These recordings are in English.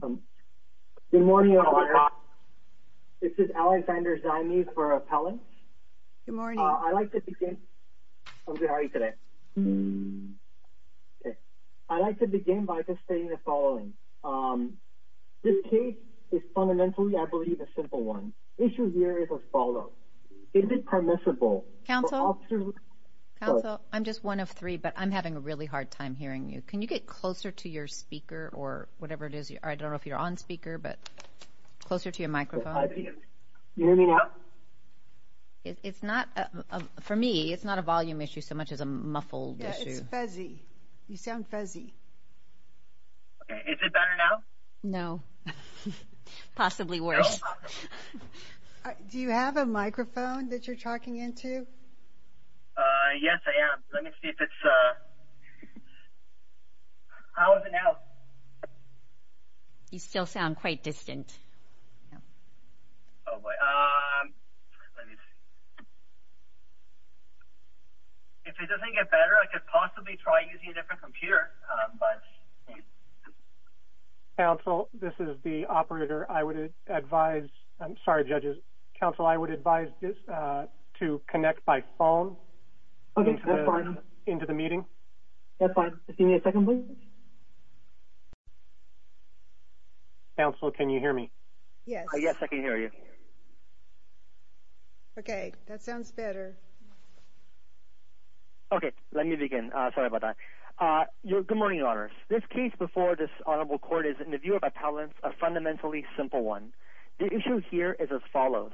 Good morning, this is Alexander Zymes for Appellant. I'd like to begin by just stating the following. This case is fundamentally, I believe, a simple one. The issue here is a follow-up. Is it permissible for officers... Closer to your speaker or whatever it is. I don't know if you're on speaker, but closer to your microphone. Can you hear me now? It's not, for me, it's not a volume issue so much as a muffled issue. Yeah, it's fuzzy. You sound fuzzy. Is it better now? No. Possibly worse. Do you have a microphone that you're talking into? Yes, I am. Let me see if it's... How is it now? You still sound quite distant. Oh, boy. Let me see. If it doesn't get better, I could possibly try using a different computer, but... Counsel, this is the operator. I would advise... I'm sorry, judges. Counsel, I would advise to connect by phone into the meeting. That's fine. Give me a second, please. Counsel, can you hear me? Yes. Yes, I can hear you. Okay, that sounds better. Okay, let me begin. Sorry about that. Good morning, Your Honors. This case before this honorable court is, in the view of appellants, a fundamentally simple one. The issue here is as follows.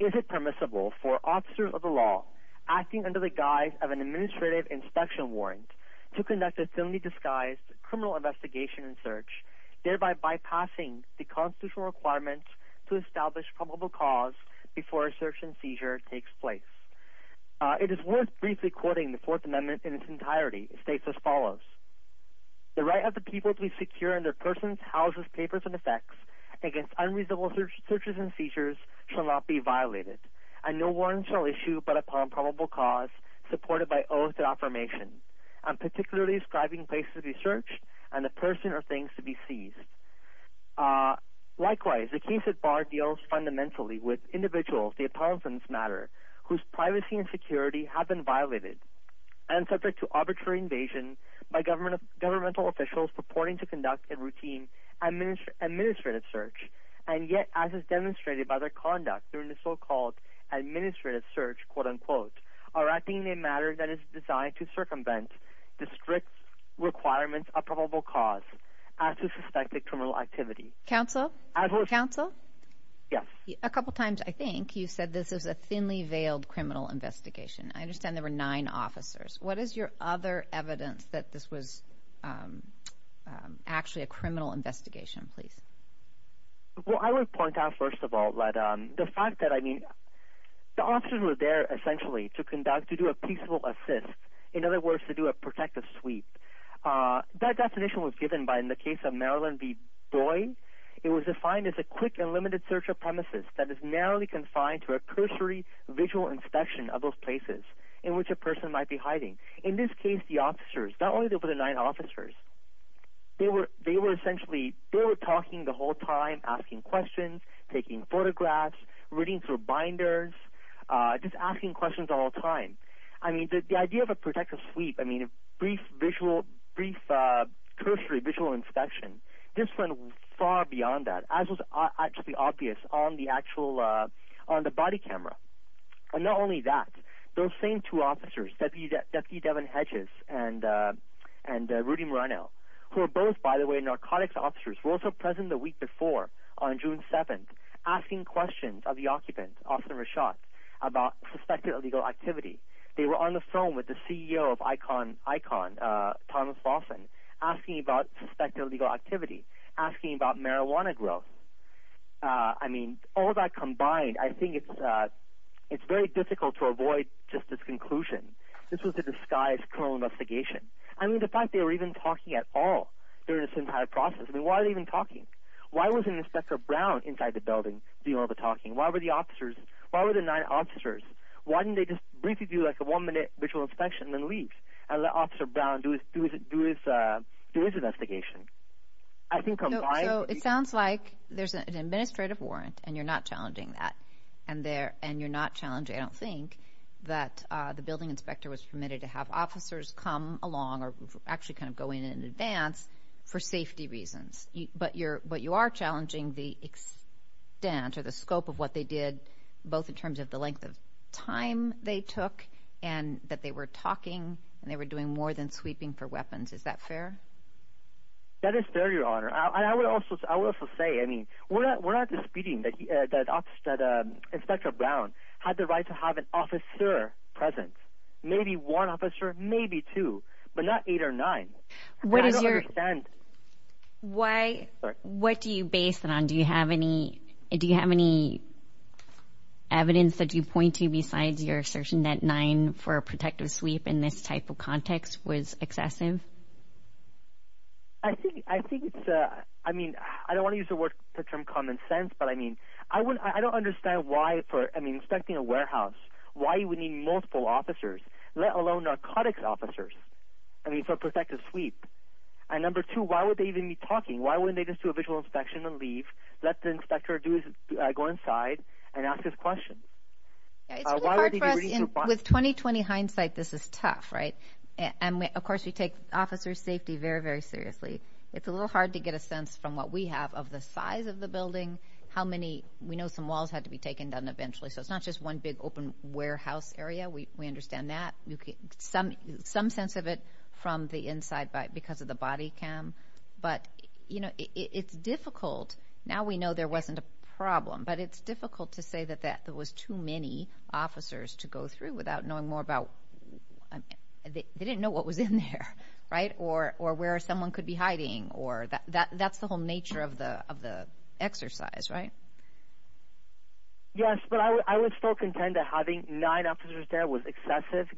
Is it permissible for officers of the law acting under the guise of an administrative inspection warrant to conduct a thinly disguised criminal investigation and search, thereby bypassing the constitutional requirements to establish probable cause before a search and seizure takes place? It is worth briefly quoting the Fourth Amendment in its entirety. It states as follows. The right of the people to be secure in their persons, houses, papers, and effects against unreasonable searches and seizures shall not be violated, and no warrant shall issue but upon probable cause supported by oath and affirmation, and particularly ascribing places to be searched and the person or things to be seized. Likewise, the case at bar deals fundamentally with individuals, the appellants matter, whose privacy and security have been violated and subject to arbitrary invasion by governmental officials purporting to conduct a routine administrative search, and yet as is demonstrated by their conduct during the so-called administrative search, are acting in a manner that is designed to circumvent the strict requirements of probable cause as to suspected criminal activity. Counsel? Yes. A couple times, I think, you said this is a thinly veiled criminal investigation. I understand there were nine officers. What is your other evidence that this was actually a criminal investigation, please? Well, I would point out first of all that the fact that, I mean, the officers were there essentially to conduct, to do a peaceful assist, in other words, to do a protective sweep. That definition was given by, in the case of Marilyn B. Boyd, it was defined as a quick and limited search of premises that is narrowly confined to a cursory visual inspection of those places in which a person might be hiding. In this case, the officers, not only were there nine officers, they were essentially, they were talking the whole time, asking questions, taking photographs, reading through binders, just asking questions all the time. I mean, the idea of a protective sweep, I mean, a brief visual, brief cursory visual inspection, this went far beyond that, as was actually obvious on the body camera. And not only that, those same two officers, Deputy Devin Hedges and Rudy Murano, who are both, by the way, narcotics officers, were also present the week before on June 7th, asking questions of the occupant, Austin Rashad, about suspected illegal activity. They were on the phone with the CEO of Icon, Thomas Lawson, asking about suspected illegal activity, asking about marijuana growth. I mean, all of that combined, I think it's very difficult to avoid just this conclusion. This was a disguised criminal investigation. I mean, the fact they were even talking at all during this entire process, I mean, why were they even talking? Why wasn't Inspector Brown inside the building doing all the talking? Why were the officers, why were the nine officers, why didn't they just briefly do like a one-minute visual inspection and leave and let Officer Brown do his investigation? So it sounds like there's an administrative warrant, and you're not challenging that, and you're not challenging, I don't think, that the building inspector was permitted to have officers come along or actually kind of go in in advance for safety reasons. But you are challenging the extent or the scope of what they did, both in terms of the length of time they took and that they were talking and they were doing more than sweeping for weapons. Is that fair? That is fair, Your Honor. And I would also say, I mean, we're not disputing that Inspector Brown had the right to have an officer present, maybe one officer, maybe two, but not eight or nine. I don't understand. What do you base it on? Do you have any evidence that you point to besides your assertion that nine for a protective sweep in this type of context was excessive? I think it's, I mean, I don't want to use the term common sense, but, I mean, I don't understand why for inspecting a warehouse, why you would need multiple officers, let alone narcotics officers, I mean, for a protective sweep. And number two, why would they even be talking? Why wouldn't they just do a visual inspection and leave, let the inspector go inside and ask his questions? It's really hard for us. With 20-20 hindsight, this is tough, right? And, of course, we take officer safety very, very seriously. It's a little hard to get a sense from what we have of the size of the building, how many, we know some walls had to be taken down eventually, so it's not just one big open warehouse area. We understand that. Some sense of it from the inside because of the body cam. But, you know, it's difficult. Now we know there wasn't a problem, but it's difficult to say that there was too many officers to go through without knowing more about, they didn't know what was in there, right, or where someone could be hiding. That's the whole nature of the exercise, right? Yes, but I would still contend that having nine officers there was excessive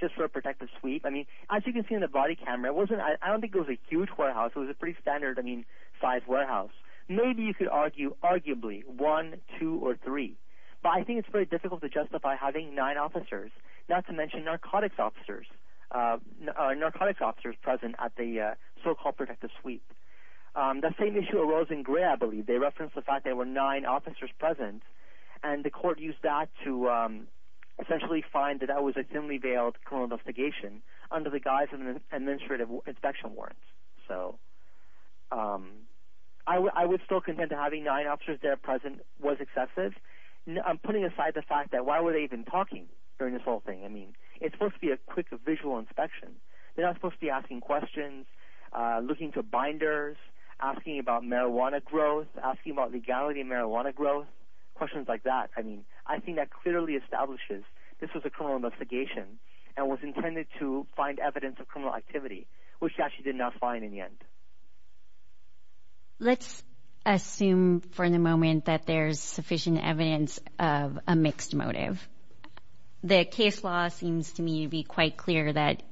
just for a protective sweep. I mean, as you can see in the body camera, I don't think it was a huge warehouse. It was a pretty standard size warehouse. Maybe you could argue, arguably, one, two, or three. But I think it's very difficult to justify having nine officers, not to mention narcotics officers present at the so-called protective sweep. The same issue arose in Gray, I believe. They referenced the fact there were nine officers present, and the court used that to essentially find that that was a thinly-veiled criminal investigation under the guise of an administrative inspection warrant. So I would still contend that having nine officers there present was excessive. I'm putting aside the fact that why were they even talking during this whole thing? I mean, it's supposed to be a quick visual inspection. They're not supposed to be asking questions, looking for binders, asking about marijuana growth, asking about legality in marijuana growth, questions like that. I mean, I think that clearly establishes this was a criminal investigation and was intended to find evidence of criminal activity, which they actually did not find in the end. Let's assume for the moment that there's sufficient evidence of a mixed motive. The case law seems to me to be quite clear that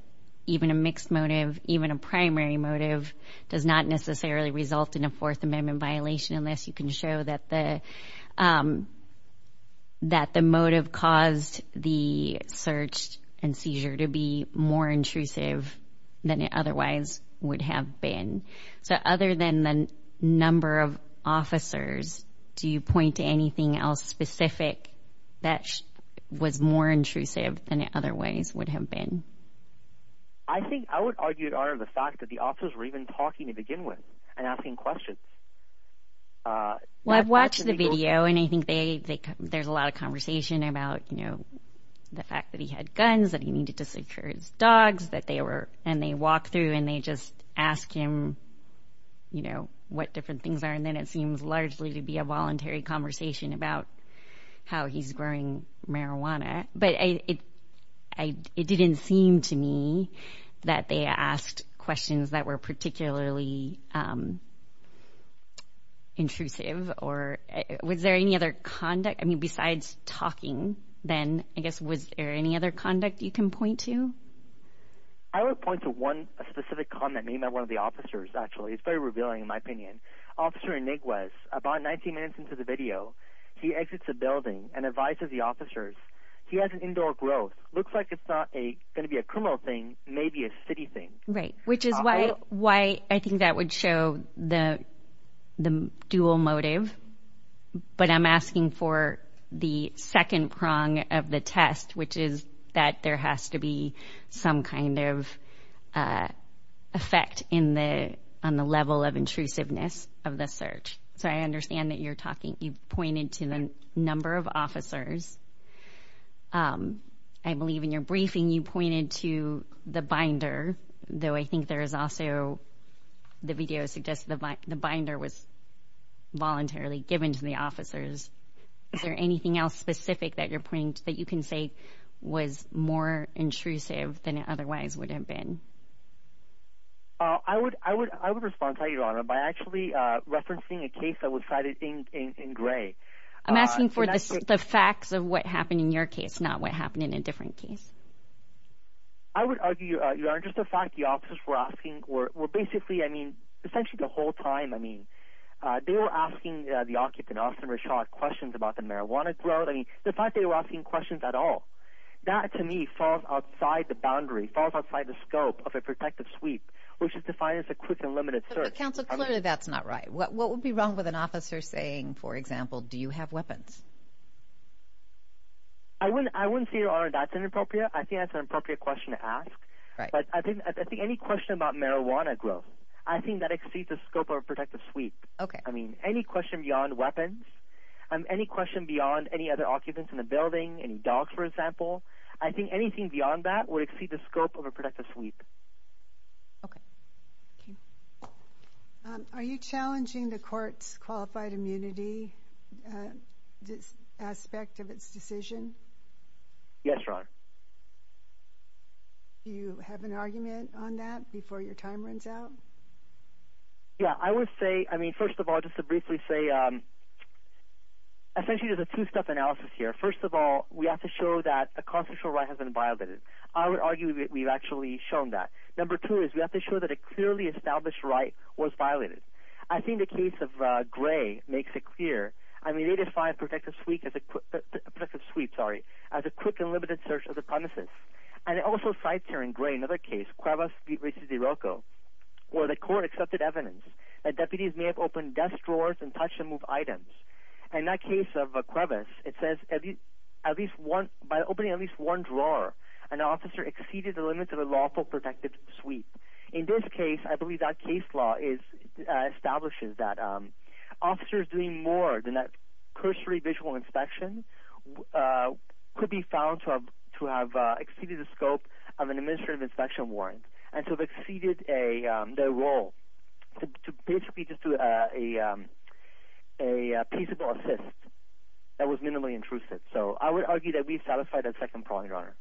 even a mixed motive, even a primary motive does not necessarily result in a Fourth Amendment violation unless you can show that the motive caused the search and seizure to be more intrusive than it otherwise would have been. So other than the number of officers, do you point to anything else specific that was more intrusive than it otherwise would have been? I think I would argue in honor of the fact that the officers were even talking to begin with and asking questions. Well, I've watched the video, and I think there's a lot of conversation about the fact that he had guns, that he needed to secure his dogs, and they walk through and they just ask him what different things are, and then it seems largely to be a voluntary conversation about how he's growing marijuana. Okay, but it didn't seem to me that they asked questions that were particularly intrusive. Was there any other conduct? I mean, besides talking then, I guess, was there any other conduct you can point to? I would point to one specific comment made by one of the officers, actually. It's very revealing in my opinion. Officer Iniguez, about 19 minutes into the video, he exits a building and advises the officers he has an indoor growth. Looks like it's not going to be a criminal thing, maybe a city thing. Right, which is why I think that would show the dual motive. But I'm asking for the second prong of the test, which is that there has to be some kind of effect on the level of intrusiveness of the search. So I understand that you pointed to the number of officers. I believe in your briefing you pointed to the binder, though I think there is also the video suggests the binder was voluntarily given to the officers. Is there anything else specific that you can say was more intrusive than it otherwise would have been? I would respond to that, Your Honor, by actually referencing a case that was cited in Gray. I'm asking for the facts of what happened in your case, not what happened in a different case. I would argue, Your Honor, just the fact the officers were asking, were basically, I mean, essentially the whole time, they were asking the occupant, Austin Richard, questions about the marijuana growth. The fact they were asking questions at all, that to me falls outside the boundary, falls outside the scope. Which is defined as a quick and limited search. But, Counsel, clearly that's not right. What would be wrong with an officer saying, for example, do you have weapons? I wouldn't say, Your Honor, that's inappropriate. I think that's an appropriate question to ask. But I think any question about marijuana growth, I think that exceeds the scope of a protective sweep. I mean, any question beyond weapons, any question beyond any other occupants in the building, any dogs, for example, I think anything beyond that would exceed the scope of a protective sweep. Okay. Thank you. Are you challenging the court's qualified immunity aspect of its decision? Yes, Your Honor. Do you have an argument on that before your time runs out? Yeah, I would say, I mean, first of all, just to briefly say, essentially there's a two-step analysis here. First of all, we have to show that a constitutional right has been violated. I would argue that we've actually shown that. Number two is we have to show that a clearly established right was violated. I think the case of Gray makes it clear. I mean, they define a protective sweep as a quick and limited search of the premises. And it also cites here in Gray another case, Cuevas v. DeRocco, where the court accepted evidence that deputies may have opened desk drawers and touched and moved items. In that case of Cuevas, it says by opening at least one drawer, an officer exceeded the limits of a lawful protective sweep. In this case, I believe that case law establishes that officers doing more than that cursory visual inspection could be found to have exceeded the scope of an administrative inspection warrant and to have exceeded their role to basically just do a peaceable assist that was minimally intrusive. So I would argue that we satisfy that second point, Your Honor.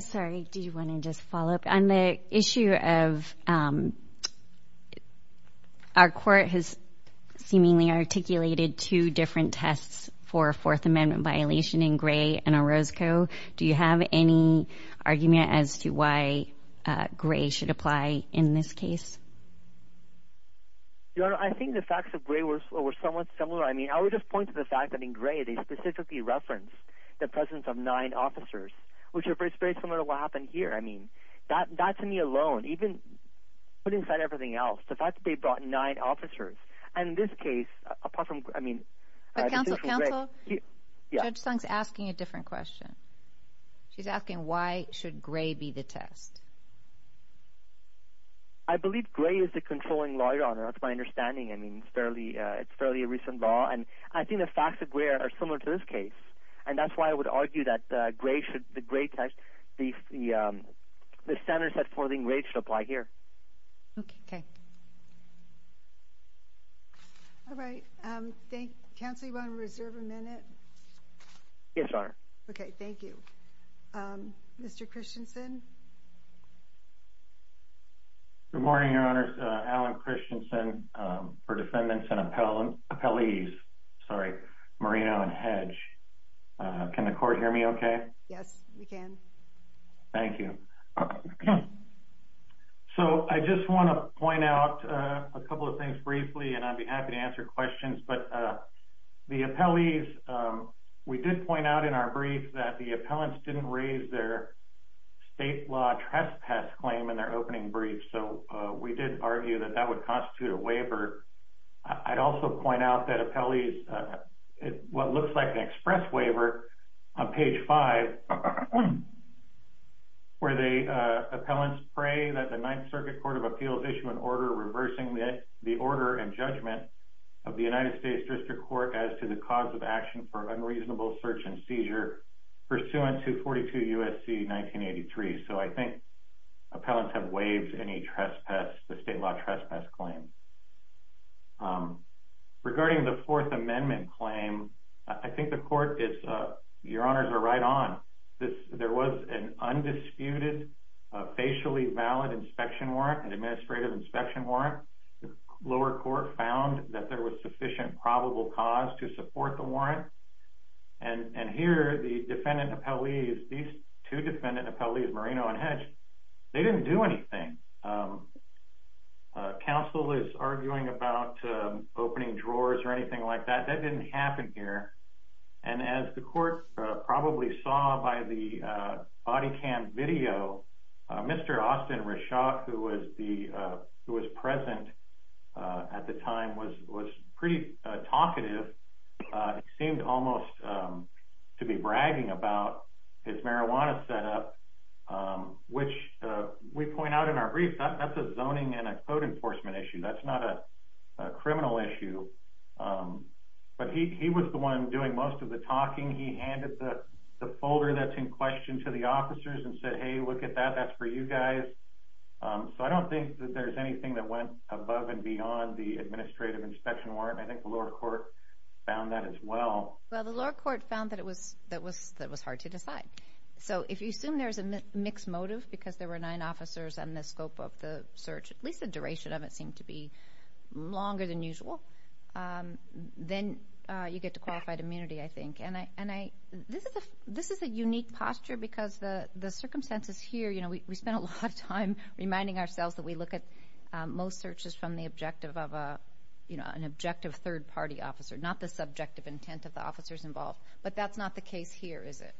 Sorry, do you want to just follow up? On the issue of our court has seemingly articulated two different tests for a Fourth Amendment violation in Gray v. DeRocco, do you have any argument as to why Gray should apply in this case? Your Honor, I think the facts of Gray were somewhat similar. I mean, I would just point to the fact that in Gray they specifically referenced the presence of nine officers, which is very similar to what happened here. I mean, that to me alone, even put inside everything else, the fact that they brought nine officers. And in this case, apart from, I mean... But, Counsel, Counsel, Judge Sung's asking a different question. She's asking why should Gray be the test. I believe Gray is the controlling lawyer, Your Honor. That's my understanding. I mean, it's fairly a recent law. And I think the facts of Gray are similar to this case. And that's why I would argue that the Gray test, the standard set for Gray should apply here. Okay. All right. Counsel, do you want to reserve a minute? Yes, Your Honor. Okay, thank you. Mr. Christensen? Good morning, Your Honors. Alan Christensen for defendants and appellees. Sorry, Marina and Hedge. Can the court hear me okay? Yes, we can. Thank you. So I just want to point out a couple of things briefly, and I'd be happy to answer questions. But the appellees, we did point out in our brief that the appellants didn't raise their state law trespass claim in their opening brief. So we did argue that that would constitute a waiver. I'd also point out that appellees, what looks like an express waiver on page five where the appellants pray that the Ninth Circuit Court of Appeals issue an order reversing the order and judgment of the United States District Court as to the cause of action for unreasonable search and seizure pursuant to 42 USC 1983. So I think appellants have waived any trespass, the state law trespass claim. Regarding the Fourth Amendment claim, I think the court is, Your Honors are right on. There was an undisputed facially valid inspection warrant, an administrative inspection warrant. The lower court found that there was sufficient probable cause to support the warrant. And here, the defendant appellees, these two defendant appellees, Marino and Hedge, they didn't do anything. Counsel is arguing about opening drawers or anything like that. That didn't happen here. And as the court probably saw by the body cam video, Mr. Austin Reshock, who was present at the time, was pretty talkative. He seemed almost to be bragging about his marijuana setup, which we point out in our brief, that's a zoning and a code enforcement issue. That's not a criminal issue. But he was the one doing most of the talking. He handed the folder that's in question to the officers and said, hey, look at that, that's for you guys. So I don't think that there's anything that went above and beyond the administrative inspection warrant. I think the lower court found that as well. Well, the lower court found that it was hard to decide. So if you assume there's a mixed motive because there were nine officers and the scope of the search, at least the duration of it, seemed to be longer than usual, then you get to qualified immunity, I think. This is a unique posture because the circumstances here, we spend a lot of time reminding ourselves that we look at most searches from the objective of an objective third-party officer, not the subjective intent of the officers involved. But that's not the case here, is it?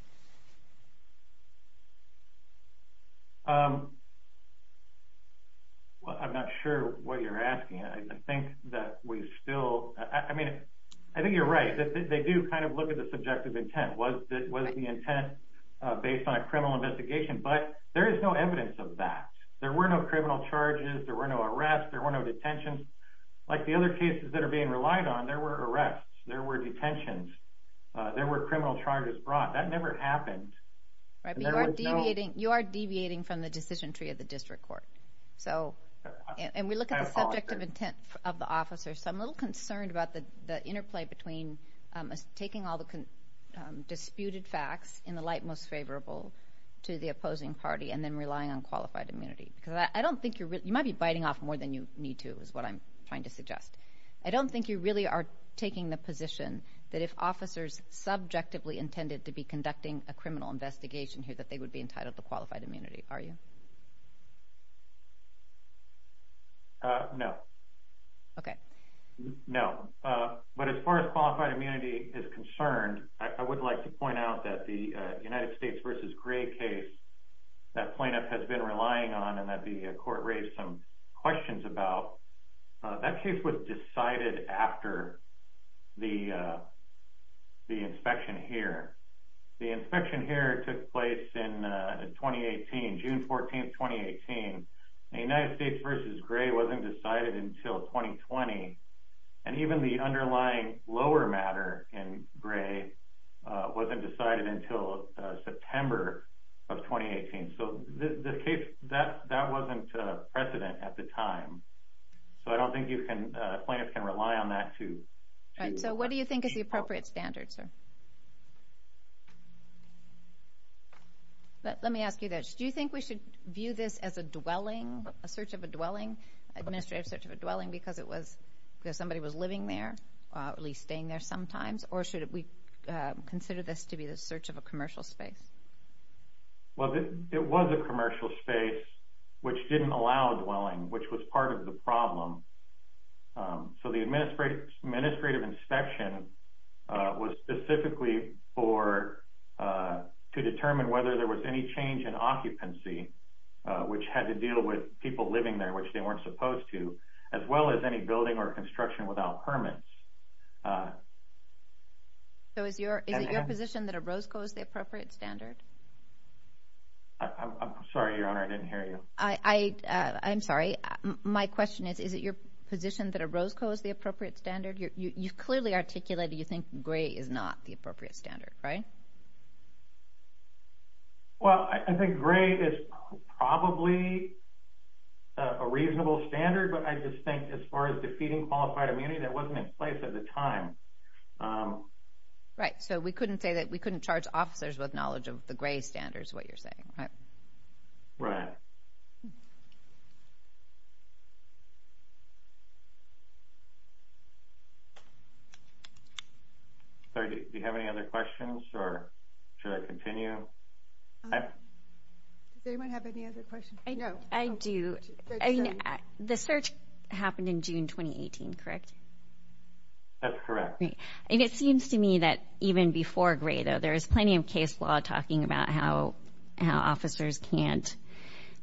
I'm not sure what you're asking. I think that we still – I mean, I think you're right. They do kind of look at the subjective intent. Was the intent based on a criminal investigation? But there is no evidence of that. There were no criminal charges. There were no arrests. There were no detentions. Like the other cases that are being relied on, there were arrests. There were detentions. There were criminal charges brought. That never happened. You are deviating from the decision tree of the district court. And we look at the subjective intent of the officers. I'm a little concerned about the interplay between taking all the disputed facts in the light most favorable to the opposing party and then relying on qualified immunity. Because I don't think you're – you might be biting off more than you need to, is what I'm trying to suggest. I don't think you really are taking the position that if officers subjectively intended to be conducting a criminal investigation here that they would be entitled to qualified immunity. Are you? No. Okay. No. But as far as qualified immunity is concerned, I would like to point out that the United States v. Gray case, that plaintiff has been relying on and that the court raised some questions about, that case was decided after the inspection here. The inspection here took place in 2018, June 14, 2018. The United States v. Gray wasn't decided until 2020. And even the underlying lower matter in Gray wasn't decided until September of 2018. So the case – that wasn't precedent at the time. So I don't think you can – plaintiffs can rely on that to – So what do you think is the appropriate standard, sir? Let me ask you this. Do you think we should view this as a dwelling, a search of a dwelling, administrative search of a dwelling because it was – because somebody was living there, at least staying there sometimes? Or should we consider this to be the search of a commercial space? Well, it was a commercial space which didn't allow a dwelling, which was part of the problem. So the administrative inspection was specifically for – which had to deal with people living there, which they weren't supposed to, as well as any building or construction without permits. So is it your position that a Roscoe is the appropriate standard? I'm sorry, Your Honor, I didn't hear you. I'm sorry. My question is, is it your position that a Roscoe is the appropriate standard? You clearly articulated you think Gray is not the appropriate standard, right? Well, I think Gray is probably a reasonable standard, but I just think as far as defeating qualified immunity, that wasn't in place at the time. Right. So we couldn't say that – we couldn't charge officers with knowledge of the Gray standards, what you're saying, right? Right. Thank you. Do you have any other questions, or should I continue? Does anyone have any other questions? No. I do. The search happened in June 2018, correct? That's correct. And it seems to me that even before Gray, though, there is plenty of case law talking about how officers can't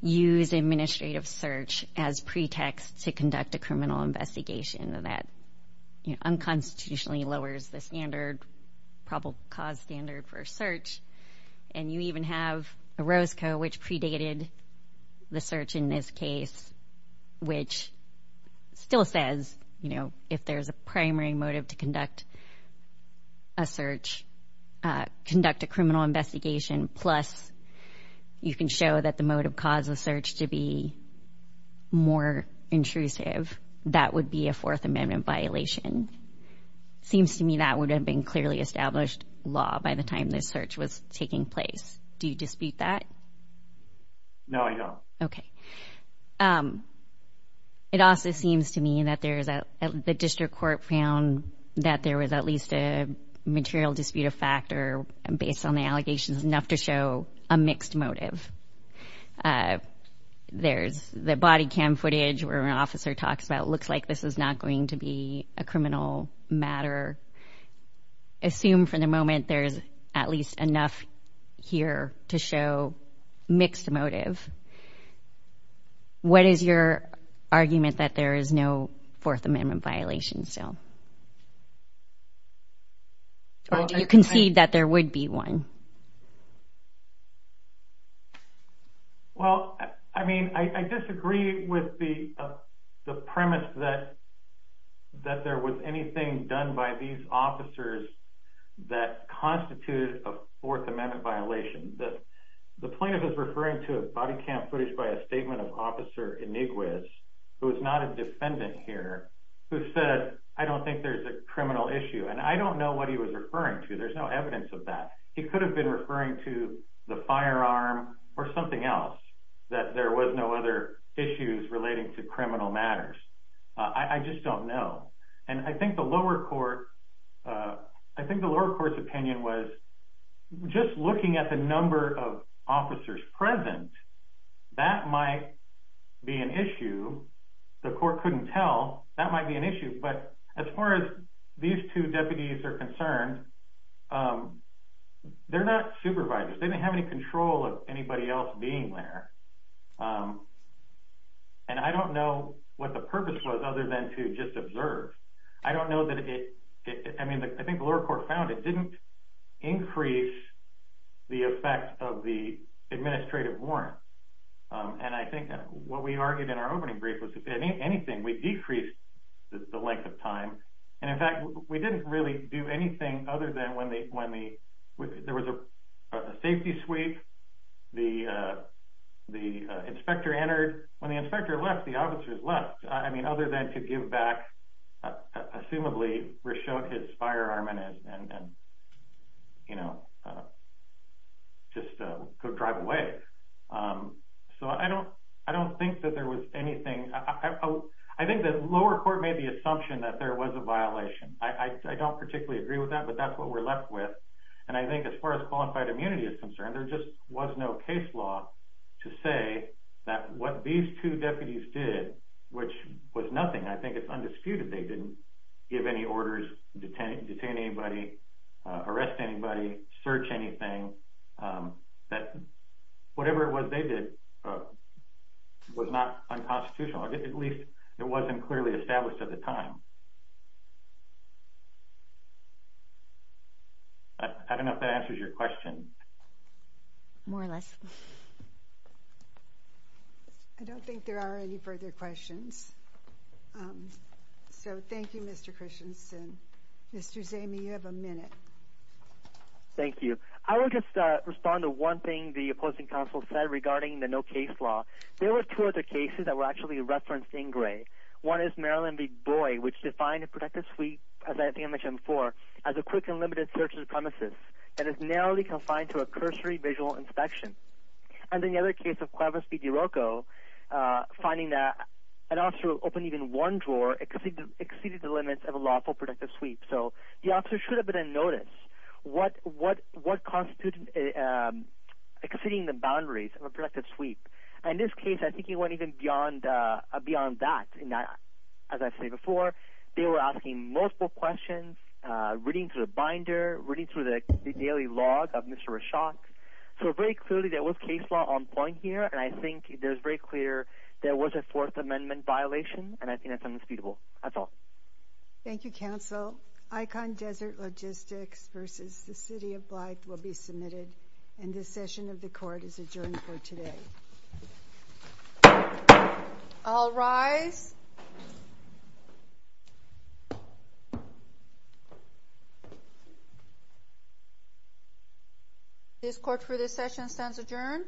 use administrative search as pretext to conduct a criminal investigation. That unconstitutionally lowers the standard, probable cause standard for a search. And you even have a Roscoe, which predated the search in this case, which still says, you know, if there's a primary motive to conduct a search, conduct a criminal investigation, plus you can show that the motive caused the search to be more intrusive, that would be a Fourth Amendment violation. Seems to me that would have been clearly established law by the time this search was taking place. Do you dispute that? No, I don't. Okay. It also seems to me that the district court found that there was at least a material dispute of fact or based on the allegations, enough to show a mixed motive. There's the body cam footage where an officer talks about, it looks like this is not going to be a criminal matter. Assume for the moment there's at least enough here to show mixed motive. What is your argument that there is no Fourth Amendment violation still? Or do you concede that there would be one? Well, I mean, I disagree with the premise that there was anything done by these officers that constituted a Fourth Amendment violation. The plaintiff is referring to a body cam footage by a statement of Officer Iniguez, who is not a defendant here, who said, I don't think there's a criminal issue. And I don't know what he was referring to. There's no evidence of that. He could have been referring to the firearm or something else, that there was no other issues relating to criminal matters. I just don't know. And I think the lower court's opinion was, just looking at the number of officers present, that might be an issue. The court couldn't tell. That might be an issue. But as far as these two deputies are concerned, they're not supervisors. They didn't have any control of anybody else being there. And I don't know what the purpose was other than to just observe. I don't know that it – I mean, I think the lower court found it didn't increase the effect of the administrative warrant. And I think what we argued in our opening brief was if anything, we decreased the length of time. And, in fact, we didn't really do anything other than when there was a safety sweep, the inspector entered. When the inspector left, the officers left. I mean, other than to give back, assumably, his firearm and, you know, just go drive away. So I don't think that there was anything. I think the lower court made the assumption that there was a violation. I don't particularly agree with that, but that's what we're left with. And I think as far as qualified immunity is concerned, there just was no case law to say that what these two deputies did, which was nothing. I think it's undisputed they didn't give any orders, detain anybody, arrest anybody, search anything. Whatever it was they did was not unconstitutional. At least it wasn't clearly established at the time. I don't know if that answers your question. More or less. I don't think there are any further questions. So thank you, Mr. Christensen. Mr. Zamey, you have a minute. Thank you. I will just respond to one thing the opposing counsel said regarding the no case law. There were two other cases that were actually referenced in gray. One is Maryland v. Boyd, which defined a protective sweep, as I think I mentioned before, as a quick and limited search of premises that is narrowly confined to a cursory visual inspection. And then the other case of Cuevas v. DeRocco, finding that an officer who opened even one drawer exceeded the limits of a lawful protective sweep. So the officer should have been in notice. What constitutes exceeding the boundaries of a protective sweep? In this case, I think it went even beyond that. As I've said before, they were asking multiple questions, reading through the binder, reading through the daily log of Mr. Rashak. So very clearly there was case law on point here, and I think it is very clear there was a Fourth Amendment violation, and I think that's indisputable. That's all. Thank you, counsel. Icon Desert Logistics v. the City of Blythe will be submitted, and this session of the court is adjourned for today. All rise. This court for this session stands adjourned.